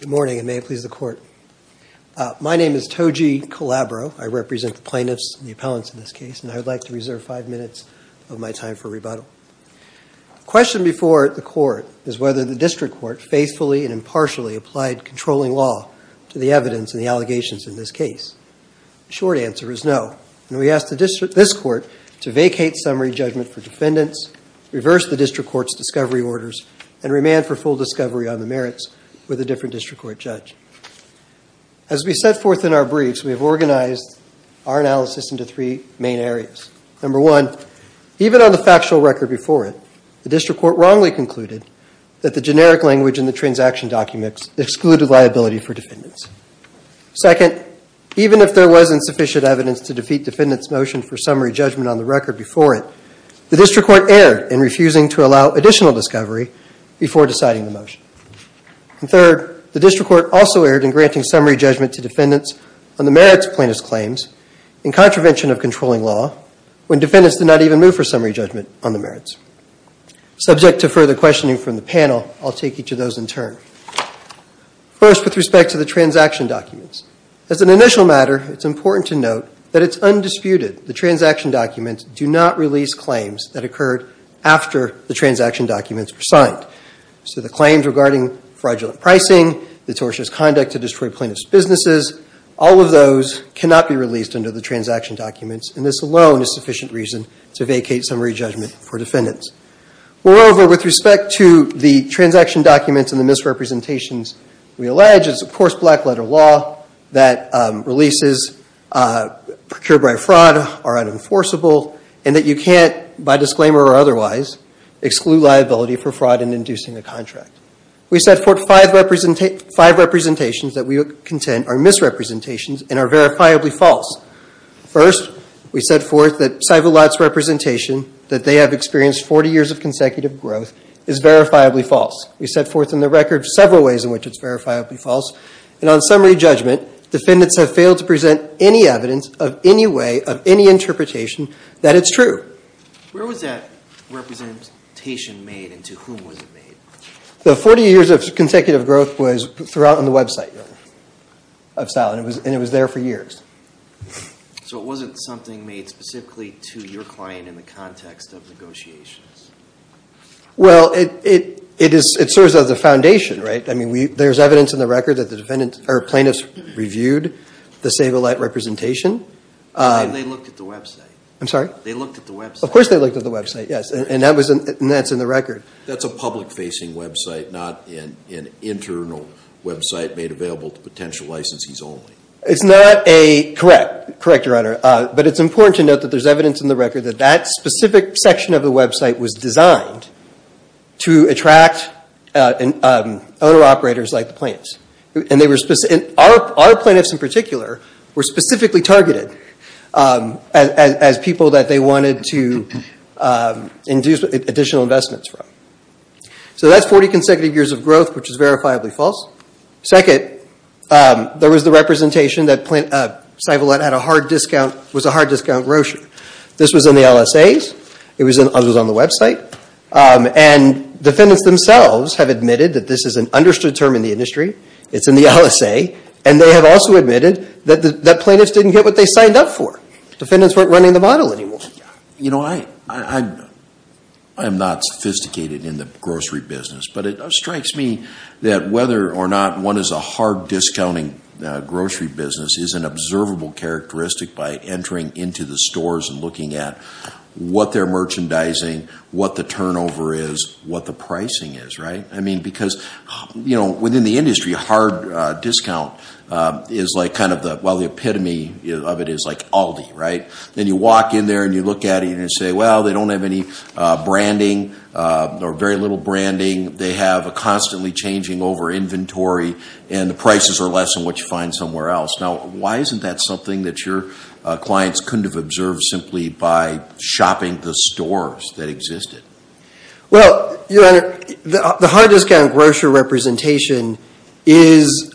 Good morning, and may it please the Court. My name is Toji Colabro. I represent the plaintiffs and the appellants in this case, and I would like to reserve five minutes of my time for rebuttal. The question before the Court is whether the District Court faithfully and impartially applied controlling law to the evidence and the allegations in this case. The short answer is no, and we ask this Court to vacate summary judgment for defendants, reverse the District Court's discovery orders, and remand for full discovery on the merits with a different District Court judge. As we set forth in our briefs, we have organized our analysis into three main areas. Number one, even on the factual record before it, the District Court wrongly concluded that the generic language in the transaction documents excluded liability for defendants. Second, even if there wasn't sufficient evidence to defeat defendants' motion for summary judgment on the record before it, the District Court erred in refusing to allow additional discovery before deciding the motion. And third, the District Court also erred in granting summary judgment to defendants on the merits of plaintiffs' claims in contravention of controlling law, when defendants did not even move for summary judgment on the merits. Subject to further questioning from the panel, I'll take each of those in turn. First, with respect to the transaction documents, as an initial matter, it's important to note that it's undisputed the transaction documents do not release claims that occurred after the transaction documents were signed. So the claims regarding fraudulent pricing, the tortious conduct to destroy plaintiffs' businesses, all of those cannot be released under the transaction documents, and this alone is sufficient reason to vacate summary judgment for defendants. Moreover, with respect to the transaction documents and the misrepresentations we allege, it's of course black-letter law that releases procured by fraud are unenforceable, and that you can't, by disclaimer or otherwise, exclude liability for fraud in inducing a contract. We set forth five representations that we contend are misrepresentations and are verifiably false. First, we set forth that Saevolat's representation, that they have experienced 40 years of consecutive growth, is verifiably false. We set forth in the record several ways in which it's verifiably false, and on summary judgment, defendants have failed to present any evidence of any way, of any interpretation, that it's true. Where was that representation made, and to whom was it made? The 40 years of consecutive growth was throughout on the website of Saevolat, and it was there for years. So it wasn't something made specifically to your client in the context of negotiations? Well, it serves as a foundation, right? I mean, there's evidence in the record that the plaintiffs reviewed the Saevolat representation. They looked at the website. I'm sorry? They looked at the website. Of course they looked at the website, yes, and that's in the record. That's a public-facing website, not an internal website made available to potential licensees only. Correct, Your Honor, but it's important to note that there's evidence in the record that that specific section of the website was designed to attract owner-operators like the plaintiffs. Our plaintiffs in particular were specifically targeted as people that they wanted to induce additional investments from. So that's 40 consecutive years of growth, which is verifiably false. Second, there was the representation that Saevolat had a hard discount, was a hard discount grocer. This was in the LSAs. It was on the website, and defendants themselves have admitted that this is an understood term in the industry. It's in the LSA, and they have also admitted that plaintiffs didn't get what they signed up for. Defendants weren't running the model anymore. You know, I'm not sophisticated in the grocery business, but it strikes me that whether or not one is a hard-discounting grocery business is an observable characteristic by entering into the stores and looking at what they're merchandising, what the turnover is, what the pricing is, right? I mean, because, you know, within the industry, a hard discount is like kind of the, well, the epitome of it is like Aldi, right? Then you walk in there, and you look at it, and you say, well, they don't have any branding or very little branding. They have a constantly changing over inventory, and the prices are less than what you find somewhere else. Now, why isn't that something that your clients couldn't have observed simply by shopping the stores that existed? Well, Your Honor, the hard-discount grocer representation is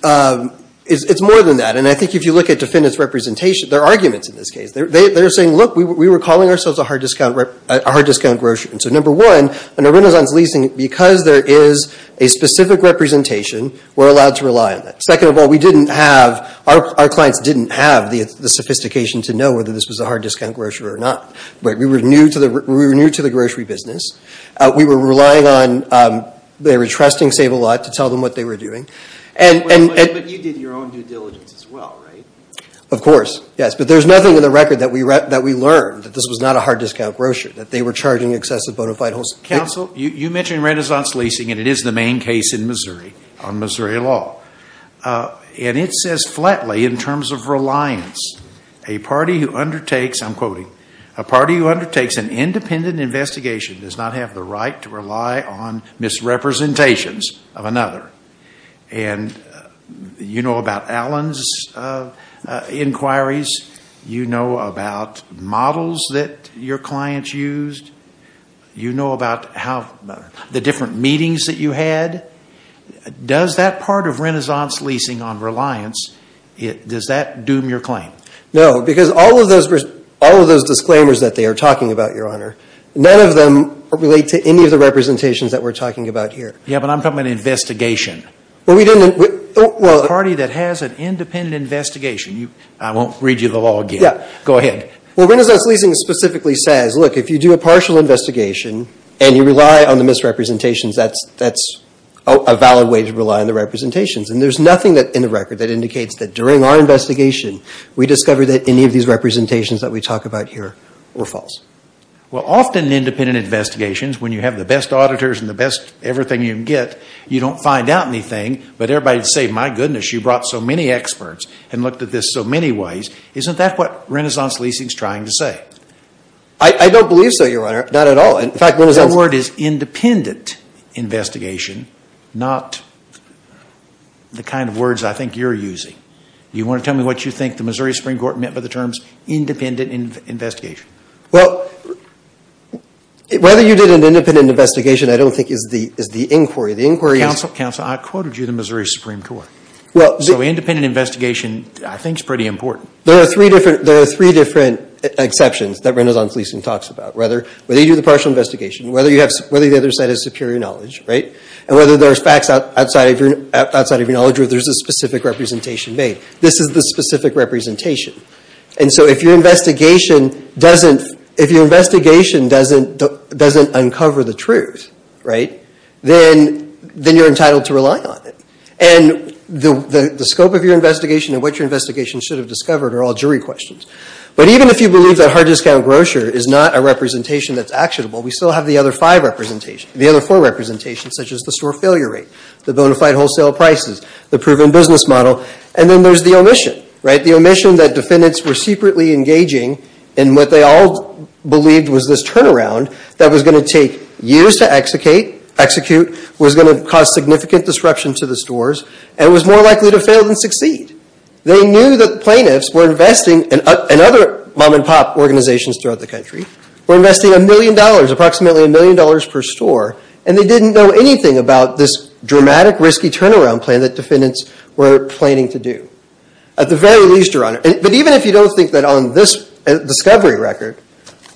more than that, and I think if you look at defendants' representation, there are arguments in this case. They're saying, look, we were calling ourselves a hard-discount grocer, and so number one, in a renaissance leasing, because there is a specific representation, we're allowed to rely on that. Second of all, we didn't have, our clients didn't have the sophistication to know whether this was a hard-discount grocer or not. We were new to the grocery business. We were relying on, they were trusting Sable Lot to tell them what they were doing. But you did your own due diligence as well, right? Of course, yes. But there's nothing in the record that we learned that this was not a hard-discount grocer, that they were charging excessive bona fide wholesale. Counsel, you mentioned renaissance leasing, and it is the main case in Missouri, on Missouri law. And it says flatly, in terms of reliance, a party who undertakes, I'm quoting, a party who undertakes an independent investigation does not have the right to rely on misrepresentations of another. And you know about Allen's inquiries. You know about models that your clients used. You know about the different meetings that you had. Does that part of renaissance leasing on reliance, does that doom your claim? No, because all of those disclaimers that they are talking about, Your Honor, none of them relate to any of the representations that we're talking about here. Yeah, but I'm talking about an investigation. Well, we didn't. A party that has an independent investigation. I won't read you the law again. Yeah. Go ahead. Well, renaissance leasing specifically says, look, if you do a partial investigation, and you rely on the misrepresentations, that's a valid way to rely on the representations. And there's nothing in the record that indicates that during our investigation, we discovered that any of these representations that we talk about here were false. Well, often independent investigations, when you have the best auditors and the best everything you can get, you don't find out anything, but everybody would say, my goodness, you brought so many experts and looked at this so many ways. Isn't that what renaissance leasing is trying to say? I don't believe so, Your Honor. Not at all. In fact, renaissance leasing. The word is independent investigation, not the kind of words I think you're using. Do you want to tell me what you think the Missouri Supreme Court meant by the terms independent investigation? Well, whether you did an independent investigation I don't think is the inquiry. The inquiry is – Counsel, I quoted you the Missouri Supreme Court. So independent investigation I think is pretty important. There are three different exceptions that renaissance leasing talks about. Whether you do the partial investigation, whether the other side is superior knowledge, right, and whether there's facts outside of your knowledge or there's a specific representation made. This is the specific representation. And so if your investigation doesn't uncover the truth, right, then you're entitled to rely on it. And the scope of your investigation and what your investigation should have discovered are all jury questions. But even if you believe that hard discount grocery is not a representation that's actionable, we still have the other four representations, such as the store failure rate, the bona fide wholesale prices, the proven business model, and then there's the omission, right, the omission that defendants were secretly engaging in what they all believed was this turnaround that was going to take years to execute, was going to cause significant disruption to the stores, and was more likely to fail than succeed. They knew that plaintiffs were investing – and other mom-and-pop organizations throughout the country – were investing a million dollars, approximately a million dollars per store, and they didn't know anything about this dramatic, risky turnaround plan that defendants were planning to do, at the very least, Your Honor. But even if you don't think that on this discovery record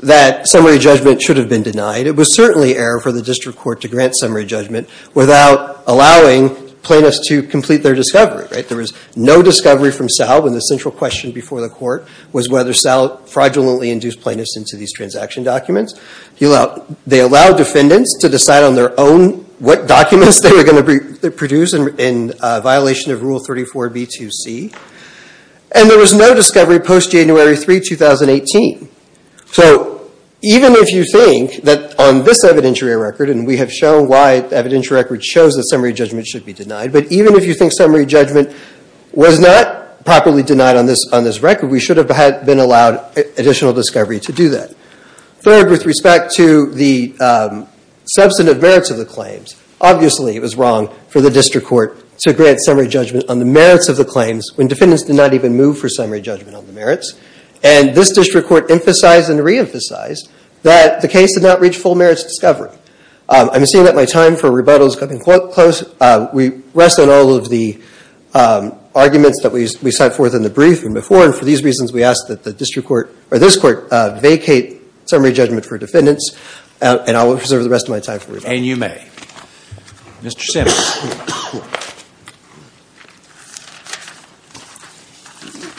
that summary judgment should have been denied, it was certainly error for the district court to grant summary judgment without allowing plaintiffs to complete their discovery, right? There was no discovery from Sal when the central question before the court was whether Sal fraudulently induced plaintiffs into these transaction documents. They allowed defendants to decide on their own what documents they were going to produce in violation of Rule 34b-2c, and there was no discovery post-January 3, 2018. So even if you think that on this evidentiary record – and we have shown why the evidentiary record shows that summary judgment should be denied – but even if you think summary judgment was not properly denied on this record, we should have been allowed additional discovery to do that. Third, with respect to the substantive merits of the claims, obviously it was wrong for the district court to grant summary judgment on the merits of the claims when defendants did not even move for summary judgment on the merits. And this district court emphasized and re-emphasized that the case did not reach full merits discovery. I'm assuming that my time for rebuttal is coming close. We rest on all of the arguments that we sent forth in the brief and before, and for these reasons we ask that the district court – or this court – vacate summary judgment for defendants, and I will reserve the rest of my time for rebuttal. And you may. Mr. Simmons.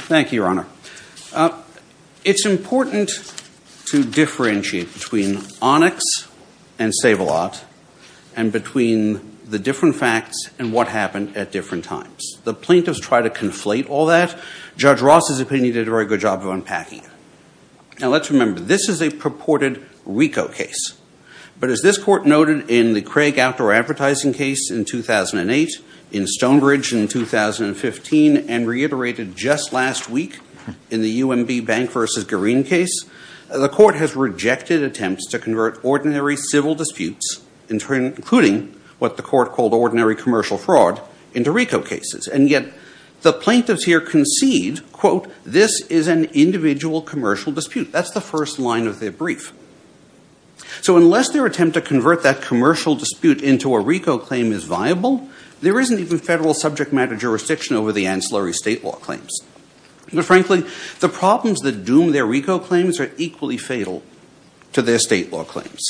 Thank you, Your Honor. It's important to differentiate between Onyx and Sabolat and between the different facts and what happened at different times. The plaintiffs try to conflate all that. Judge Ross's opinion did a very good job of unpacking it. Now let's remember, this is a purported RICO case. But as this court noted in the Craig Outdoor Advertising case in 2008, in Stonebridge in 2015, and reiterated just last week in the UMB Bank v. Garin case, the court has rejected attempts to convert ordinary civil disputes, including what the court called ordinary commercial fraud, into RICO cases. And yet the plaintiffs here concede, quote, this is an individual commercial dispute. That's the first line of their brief. So unless their attempt to convert that commercial dispute into a RICO claim is viable, there isn't even federal subject matter jurisdiction over the ancillary state law claims. And frankly, the problems that doom their RICO claims are equally fatal to their state law claims.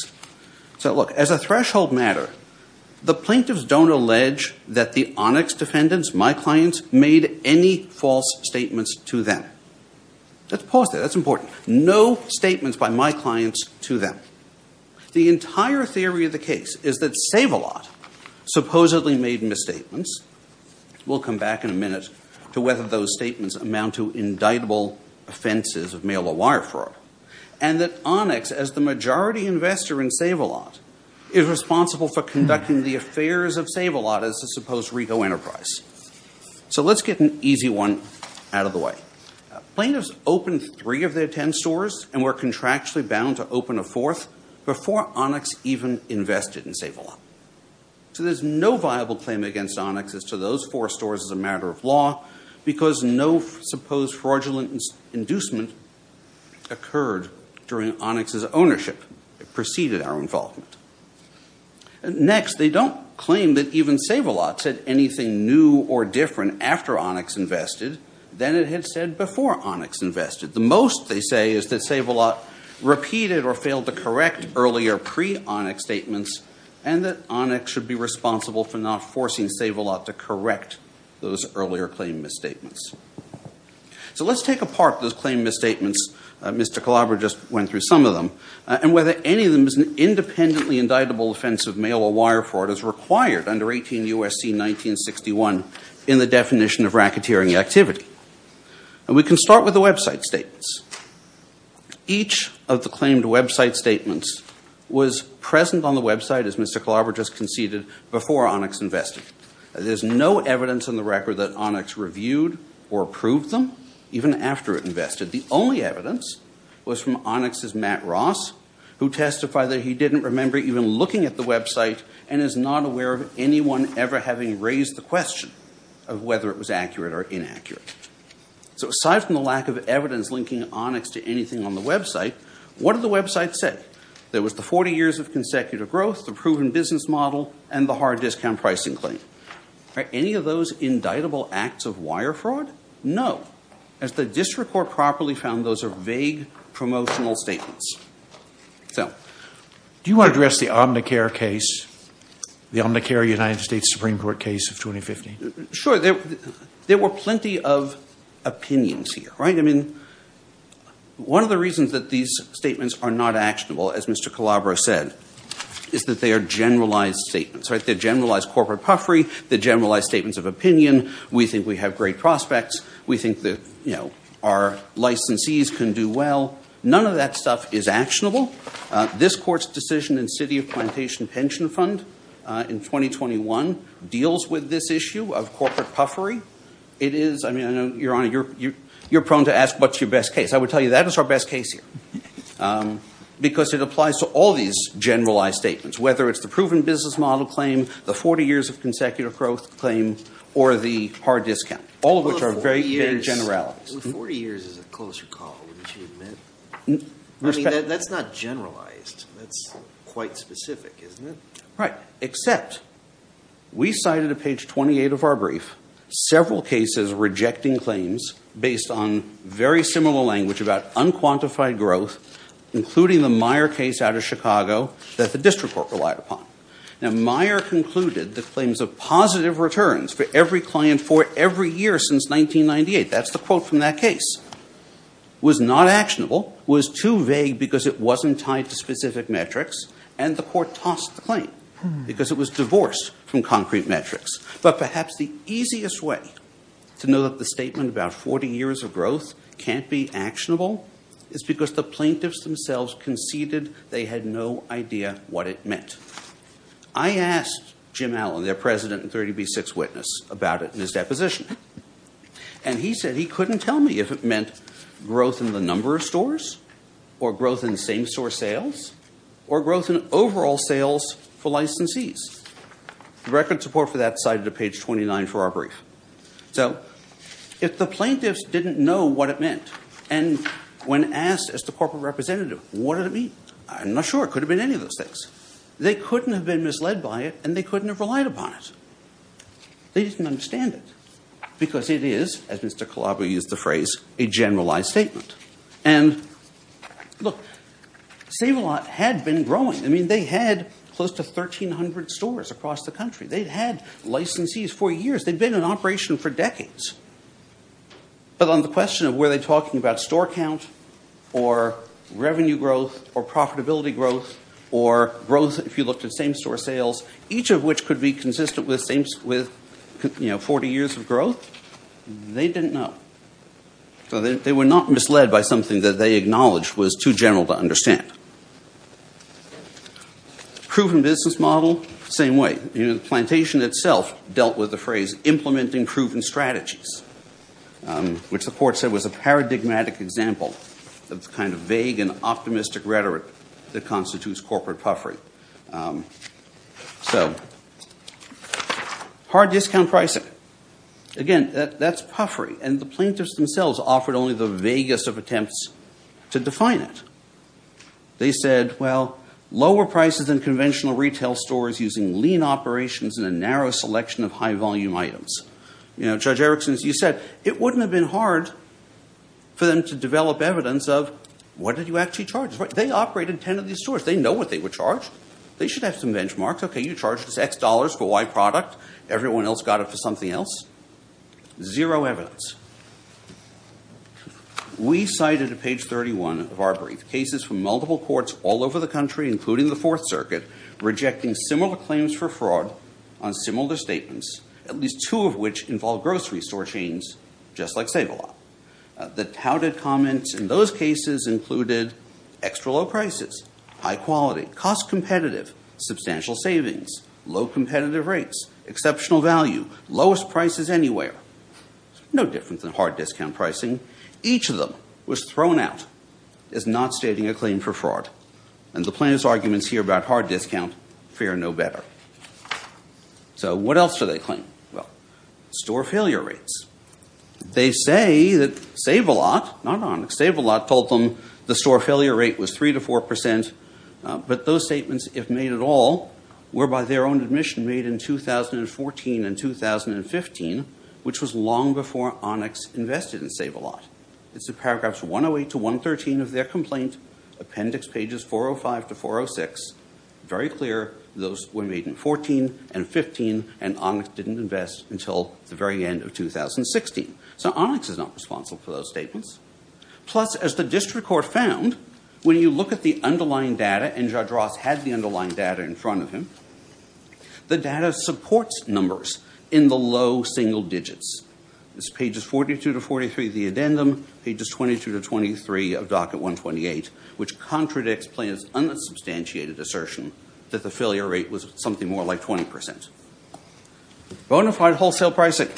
So look, as a threshold matter, the plaintiffs don't allege that the Onyx defendants, my clients, made any false statements to them. Let's pause there. That's important. No statements by my clients to them. The entire theory of the case is that Save-A-Lot supposedly made misstatements. We'll come back in a minute to whether those statements amount to indictable offenses of mail-or-wire fraud. And that Onyx, as the majority investor in Save-A-Lot, is responsible for conducting the affairs of Save-A-Lot as a supposed RICO enterprise. So let's get an easy one out of the way. Plaintiffs opened three of their ten stores and were contractually bound to open a fourth before Onyx even invested in Save-A-Lot. So there's no viable claim against Onyx as to those four stores as a matter of law because no supposed fraudulent inducement occurred during Onyx's ownership. It preceded our involvement. Next, they don't claim that even Save-A-Lot said anything new or different after Onyx invested than it had said before Onyx invested. The most they say is that Save-A-Lot repeated or failed to correct earlier pre-Onyx statements and that Onyx should be responsible for not forcing Save-A-Lot to correct those earlier claim misstatements. So let's take apart those claim misstatements. Mr. Calabro just went through some of them. And whether any of them is an independently indictable offense of mail-or-wire fraud is required under 18 U.S.C. 1961 in the definition of racketeering activity. And we can start with the website statements. Each of the claimed website statements was present on the website, as Mr. Calabro just conceded, before Onyx invested. There's no evidence on the record that Onyx reviewed or approved them even after it invested. The only evidence was from Onyx's Matt Ross, who testified that he didn't remember even looking at the website and is not aware of anyone ever having raised the question of whether it was accurate or inaccurate. So aside from the lack of evidence linking Onyx to anything on the website, what did the website say? There was the 40 years of consecutive growth, the proven business model, and the hard discount pricing claim. Are any of those indictable acts of wire fraud? No. As the district court properly found, those are vague promotional statements. Do you want to address the Omnicare case, the Omnicare United States Supreme Court case of 2015? Sure. There were plenty of opinions here, right? I mean, one of the reasons that these statements are not actionable, as Mr. Calabro said, is that they are generalized statements, right? They're generalized corporate puffery. They're generalized statements of opinion. We think we have great prospects. We think that, you know, our licensees can do well. None of that stuff is actionable. This court's decision in City of Plantation Pension Fund in 2021 deals with this issue of corporate puffery. It is, I mean, I know, Your Honor, you're prone to ask what's your best case. I would tell you that is our best case here because it applies to all these generalized statements, whether it's the proven business model claim, the 40 years of consecutive growth claim, or the hard discount, all of which are very vague generalities. 40 years is a closer call, wouldn't you admit? I mean, that's not generalized. That's quite specific, isn't it? Right, except we cited at page 28 of our brief several cases rejecting claims based on very similar language about unquantified growth, including the Meyer case out of Chicago that the district court relied upon. Now, Meyer concluded that claims of positive returns for every client for every year since 1998, that's the quote from that case, was not actionable, was too vague because it wasn't tied to specific metrics, and the court tossed the claim because it was divorced from concrete metrics. But perhaps the easiest way to know that the statement about 40 years of growth can't be actionable is because the plaintiffs themselves conceded they had no idea what it meant. I asked Jim Allen, their president and 30B6 witness, about it in his deposition, and he said he couldn't tell me if it meant growth in the number of stores or growth in same-store sales or growth in overall sales for licensees. The record support for that cited at page 29 for our brief. So if the plaintiffs didn't know what it meant, and when asked as the corporate representative, what did it mean? I'm not sure. It could have been any of those things. They couldn't have been misled by it, and they couldn't have relied upon it. They didn't understand it because it is, as Mr. Colabo used the phrase, a generalized statement. And look, Save-A-Lot had been growing. I mean, they had close to 1,300 stores across the country. They'd had licensees for years. They'd been in operation for decades. But on the question of were they talking about store count or revenue growth or profitability growth or growth if you looked at same-store sales, each of which could be consistent with 40 years of growth, they didn't know. So they were not misled by something that they acknowledged was too general to understand. Proven business model, same way. The plantation itself dealt with the phrase implementing proven strategies, which the court said was a paradigmatic example of the kind of vague and optimistic rhetoric that constitutes corporate puffery. So hard discount pricing. Again, that's puffery. And the plaintiffs themselves offered only the vaguest of attempts to define it. They said, well, lower prices than conventional retail stores using lean operations and a narrow selection of high-volume items. Judge Erickson, as you said, it wouldn't have been hard for them to develop evidence of what did you actually charge. They operated 10 of these stores. They know what they were charged. They should have some benchmarks. Okay, you charged us X dollars for Y product. Everyone else got it for something else. Zero evidence. We cited at page 31 of our brief cases from multiple courts all over the country, including the Fourth Circuit, rejecting similar claims for fraud on similar statements, at least two of which involved grocery store chains, just like Save-A-Lot. The touted comments in those cases included extra low prices, high quality, cost competitive, substantial savings, low competitive rates, exceptional value, lowest prices anywhere. No different than hard discount pricing. Each of them was thrown out as not stating a claim for fraud. And the plaintiffs' arguments here about hard discount fare no better. So what else do they claim? Well, store failure rates. They say that Save-A-Lot, not Onyx, Save-A-Lot told them the store failure rate was 3 to 4 percent. But those statements, if made at all, were by their own admission made in 2014 and 2015, which was long before Onyx invested in Save-A-Lot. It's in paragraphs 108 to 113 of their complaint, appendix pages 405 to 406. Very clear, those were made in 14 and 15, and Onyx didn't invest until the very end of 2016. So Onyx is not responsible for those statements. Plus, as the district court found, when you look at the underlying data, and Judge Ross had the underlying data in front of him, the data supports numbers in the low single digits. It's pages 42 to 43 of the addendum, pages 22 to 23 of Docket 128, which contradicts Plaintiff's unsubstantiated assertion that the failure rate was something more like 20 percent. Bonafide wholesale pricing.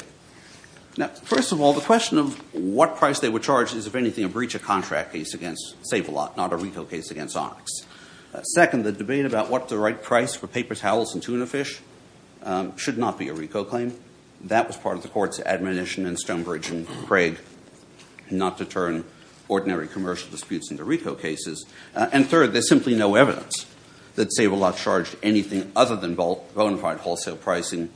Now, first of all, the question of what price they were charged is, if anything, a breach of contract case against Save-A-Lot, not a reco case against Onyx. Second, the debate about what the right price for paper towels and tuna fish should not be a reco claim. That was part of the court's admonition in Stonebridge and Craig not to turn ordinary commercial disputes into reco cases. And third, there's simply no evidence that Save-A-Lot charged anything other than bonafide wholesale pricing,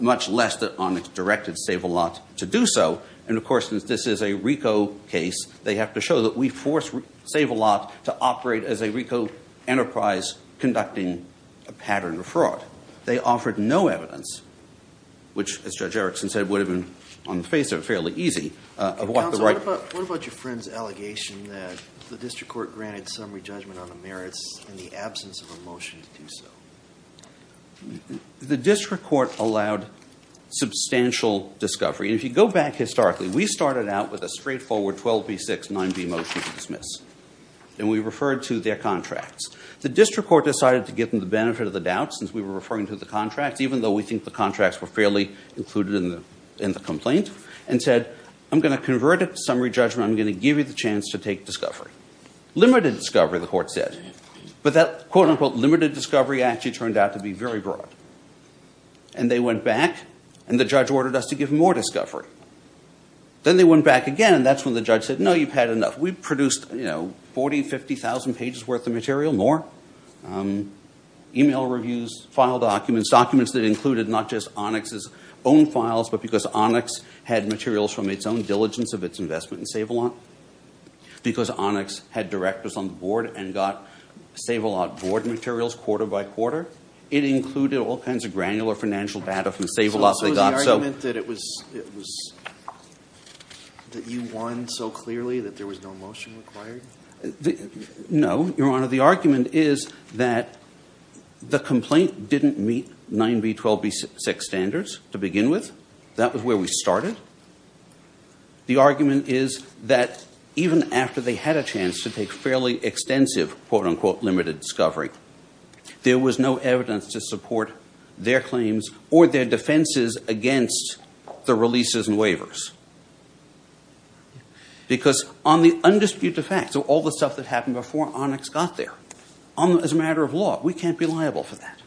much less that Onyx directed Save-A-Lot to do so. And, of course, since this is a reco case, they have to show that we forced Save-A-Lot to operate as a reco enterprise conducting a pattern of fraud. They offered no evidence, which, as Judge Erickson said, would have been, on the face of it, fairly easy. Counsel, what about your friend's allegation that the district court granted summary judgment on the merits in the absence of a motion to do so? The district court allowed substantial discovery. And if you go back historically, we started out with a straightforward 12B6 9B motion to dismiss, and we referred to their contracts. The district court decided to give them the benefit of the doubt since we were referring to the contracts, even though we think the contracts were fairly included in the complaint, and said, I'm going to convert it to summary judgment. I'm going to give you the chance to take discovery. Limited discovery, the court said. But that, quote, unquote, limited discovery actually turned out to be very broad. And they went back, and the judge ordered us to give more discovery. Then they went back again, and that's when the judge said, no, you've had enough. We've produced 40,000, 50,000 pages worth of material, more. Email reviews, file documents, documents that included not just Onyx's own files, but because Onyx had materials from its own diligence of its investment in Save-A-Lot, because Onyx had directors on the board and got Save-A-Lot board materials quarter by quarter. It included all kinds of granular financial data from Save-A-Lot. So was the argument that you won so clearly that there was no motion required? No, Your Honor. The argument is that the complaint didn't meet 9B12B6 standards to begin with. That was where we started. The argument is that even after they had a chance to take fairly extensive, quote, unquote, limited discovery, there was no evidence to support their claims or their defenses against the releases and waivers. Because on the undisputed facts of all the stuff that happened before Onyx got there, as a matter of law, we can't be liable for that.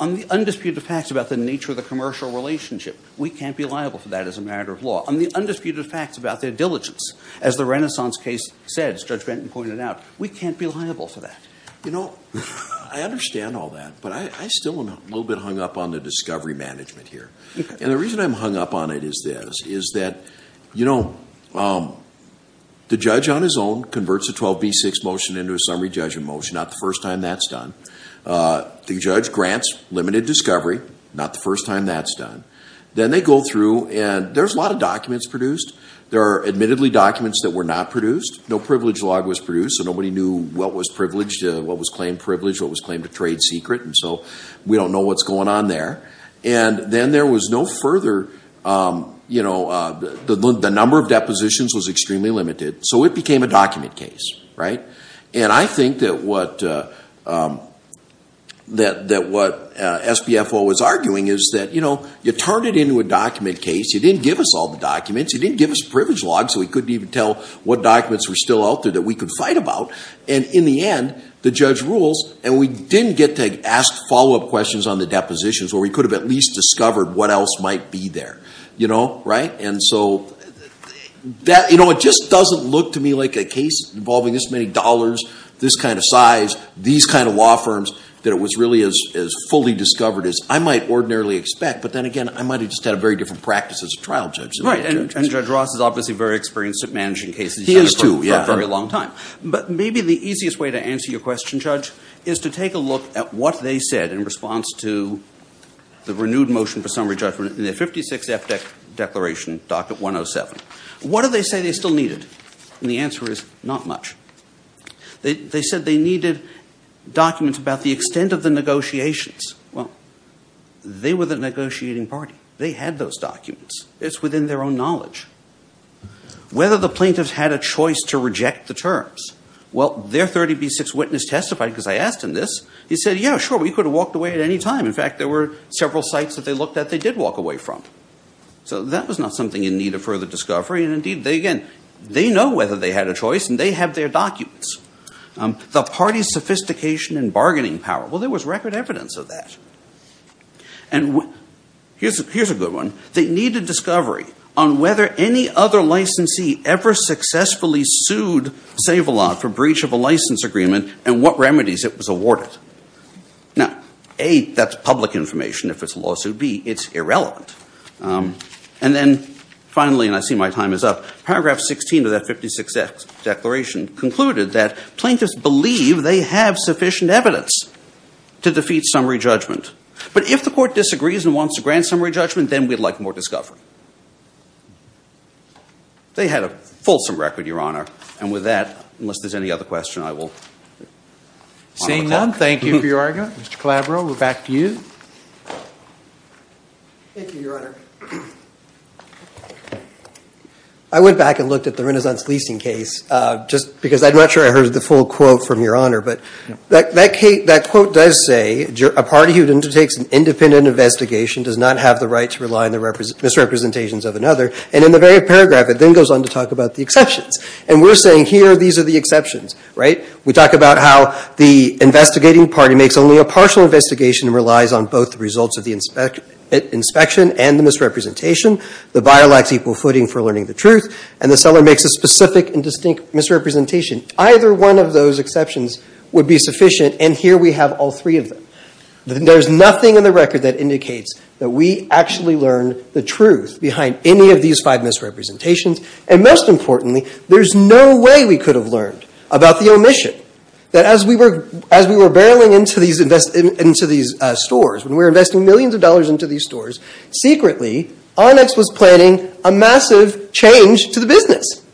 On the undisputed facts about the nature of the commercial relationship, we can't be liable for that as a matter of law. On the undisputed facts about their diligence, as the Renaissance case said, as Judge Benton pointed out, we can't be liable for that. You know, I understand all that, but I still am a little bit hung up on the discovery management here. And the reason I'm hung up on it is this, is that, you know, the judge on his own converts a 12B6 motion into a summary judgment motion. Not the first time that's done. The judge grants limited discovery. Not the first time that's done. Then they go through, and there's a lot of documents produced. There are admittedly documents that were not produced. No privilege log was produced, so nobody knew what was privileged, what was claimed privileged, what was claimed a trade secret. And so we don't know what's going on there. And then there was no further, you know, the number of depositions was extremely limited. So it became a document case, right? And I think that what SBFO was arguing is that, you know, you turned it into a document case. You didn't give us all the documents. You didn't give us privilege logs so we couldn't even tell what documents were still out there that we could fight about. And in the end, the judge rules, and we didn't get to ask follow-up questions on the depositions where we could have at least discovered what else might be there. You know, right? And so that, you know, it just doesn't look to me like a case involving this many dollars, this kind of size, these kind of law firms, that it was really as fully discovered as I might ordinarily expect. But then again, I might have just had a very different practice as a trial judge. Right, and Judge Ross is obviously very experienced at managing cases. He is too, yeah. He's had it for a very long time. But maybe the easiest way to answer your question, Judge, is to take a look at what they said in response to the renewed motion for summary judgment in the 56 F declaration, docket 107. What do they say they still needed? And the answer is not much. They said they needed documents about the extent of the negotiations. Well, they were the negotiating party. They had those documents. It's within their own knowledge. Whether the plaintiffs had a choice to reject the terms. Well, their 30B6 witness testified, because I asked him this. He said, yeah, sure, we could have walked away at any time. In fact, there were several sites that they looked at they did walk away from. So that was not something in need of further discovery. And indeed, again, they know whether they had a choice, and they have their documents. The party's sophistication and bargaining power. Well, there was record evidence of that. And here's a good one. They needed discovery on whether any other licensee ever successfully sued Save-A-Lot for breach of a license agreement and what remedies it was awarded. Now, A, that's public information. If it's a lawsuit, B, it's irrelevant. And then finally, and I see my time is up, paragraph 16 of that 56-X declaration concluded that plaintiffs believe they have sufficient evidence to defeat summary judgment. But if the court disagrees and wants to grant summary judgment, then we'd like more discovery. They had a fulsome record, Your Honor. And with that, unless there's any other question, I will... Seeing none, thank you for your argument. Mr. Calabro, we're back to you. Thank you, Your Honor. I went back and looked at the renaissance leasing case just because I'm not sure I heard the full quote from Your Honor. But that quote does say a party who undertakes an independent investigation does not have the right to rely on the misrepresentations of another. And in the very paragraph, it then goes on to talk about the exceptions. And we're saying here these are the exceptions, right? We talk about how the investigating party makes only a partial investigation and relies on both the results of the inspection and the misrepresentation. The buyer lacks equal footing for learning the truth. And the seller makes a specific and distinct misrepresentation. Either one of those exceptions would be sufficient. And here we have all three of them. There's nothing in the record that indicates that we actually learned the truth behind any of these five misrepresentations. And most importantly, there's no way we could have learned about the omission. That as we were barreling into these stores, when we were investing millions of dollars into these stores, secretly, Onyx was planning a massive change to the business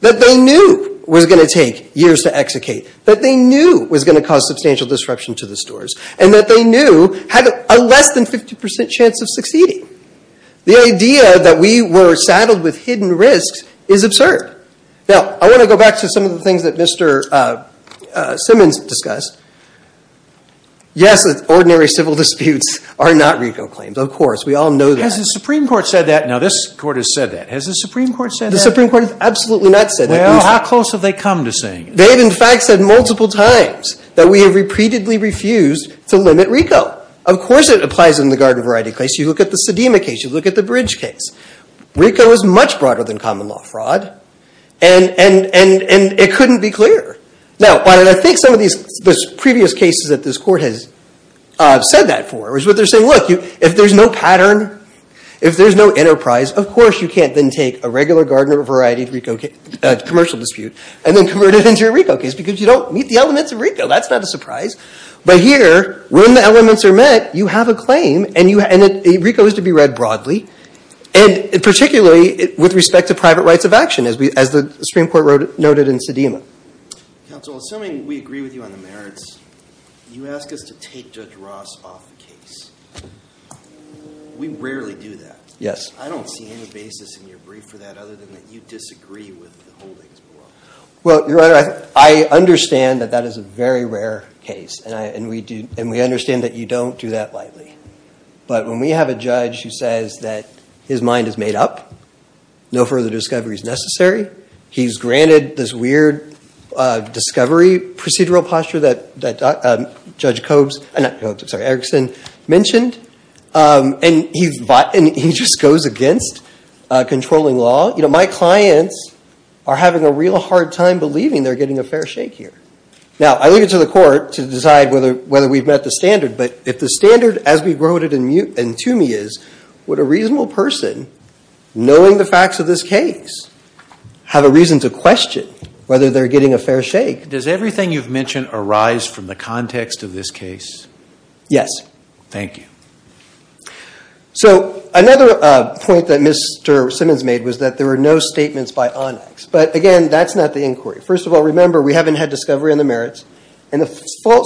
that they knew was going to take years to execute, that they knew was going to cause substantial disruption to the stores, and that they knew had a less than 50% chance of succeeding. The idea that we were saddled with hidden risks is absurd. Now, I want to go back to some of the things that Mr. Simmons discussed. Yes, ordinary civil disputes are not RICO claims. Of course, we all know that. Has the Supreme Court said that? Now, this Court has said that. Has the Supreme Court said that? The Supreme Court has absolutely not said that. Well, how close have they come to saying it? They have, in fact, said multiple times that we have repeatedly refused to limit RICO. Of course, it applies in the garden variety case. You look at the Sedema case. You look at the Bridge case. RICO is much broader than common law fraud, and it couldn't be clearer. Now, I think some of these previous cases that this Court has said that for is what they're saying, look, if there's no pattern, if there's no enterprise, of course you can't then take a regular garden variety commercial dispute and then convert it into a RICO case because you don't meet the elements of RICO. That's not a surprise. But here, when the elements are met, you have a claim, and RICO is to be read broadly, and particularly with respect to private rights of action, as the Supreme Court noted in Sedema. Counsel, assuming we agree with you on the merits, you ask us to take Judge Ross off the case. We rarely do that. Yes. I don't see any basis in your brief for that other than that you disagree with the holdings below. Well, Your Honor, I understand that that is a very rare case, and we understand that you don't do that lightly. But when we have a judge who says that his mind is made up, no further discovery is necessary, he's granted this weird discovery procedural posture that Judge Erickson mentioned, and he just goes against controlling law. You know, my clients are having a real hard time believing they're getting a fair shake here. Now, I leave it to the Court to decide whether we've met the standard, but if the standard as we wrote it in Toomey is, would a reasonable person knowing the facts of this case have a reason to question whether they're getting a fair shake? Does everything you've mentioned arise from the context of this case? Yes. Thank you. So another point that Mr. Simmons made was that there were no statements by ONIX. But again, that's not the inquiry. First of all, remember, we haven't had discovery on the merits, and the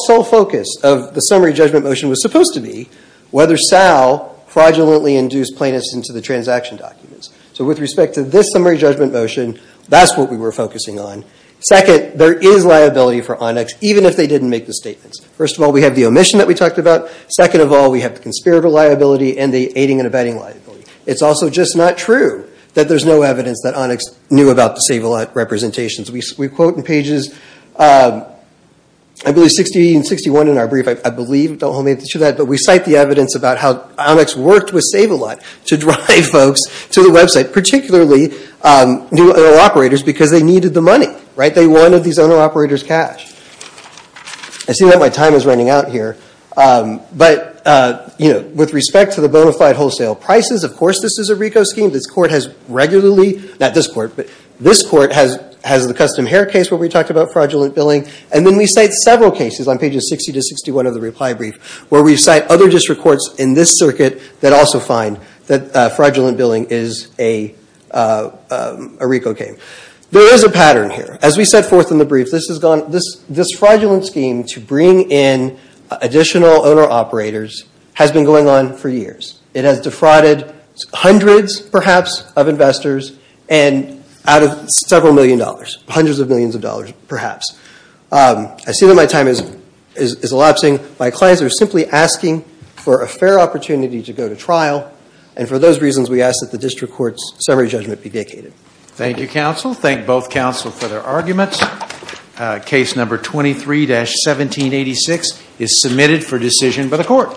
sole focus of the summary judgment motion was supposed to be whether Sal fraudulently induced plaintiffs into the transaction documents. So with respect to this summary judgment motion, that's what we were focusing on. Second, there is liability for ONIX, even if they didn't make the statements. First of all, we have the omission that we talked about. Second of all, we have the conspirator liability and the aiding and abetting liability. It's also just not true that there's no evidence that ONIX knew about the Save-A-Lot representations. We quote in pages, I believe, 60 and 61 in our brief, I believe, don't hold me to that, but we cite the evidence about how ONIX worked with Save-A-Lot to drive folks to the website, particularly new owner-operators, because they needed the money, right? They wanted these owner-operators' cash. I see that my time is running out here, but with respect to the bona fide wholesale prices, of course this is a RICO scheme. This court has regularly, not this court, but this court has the custom hair case where we talked about fraudulent billing, and then we cite several cases on pages 60 to 61 of the reply brief where we cite other district courts in this circuit that also find that fraudulent billing is a RICO game. There is a pattern here. As we set forth in the brief, this fraudulent scheme to bring in additional owner-operators has been going on for years. It has defrauded hundreds, perhaps, of investors and out of several million dollars, hundreds of millions of dollars, perhaps. I see that my time is elapsing. My clients are simply asking for a fair opportunity to go to trial, and for those reasons we ask that the district court's summary judgment be vacated. Thank you, counsel. Thank both counsel for their arguments. Case number 23-1786 is submitted for decision by the court.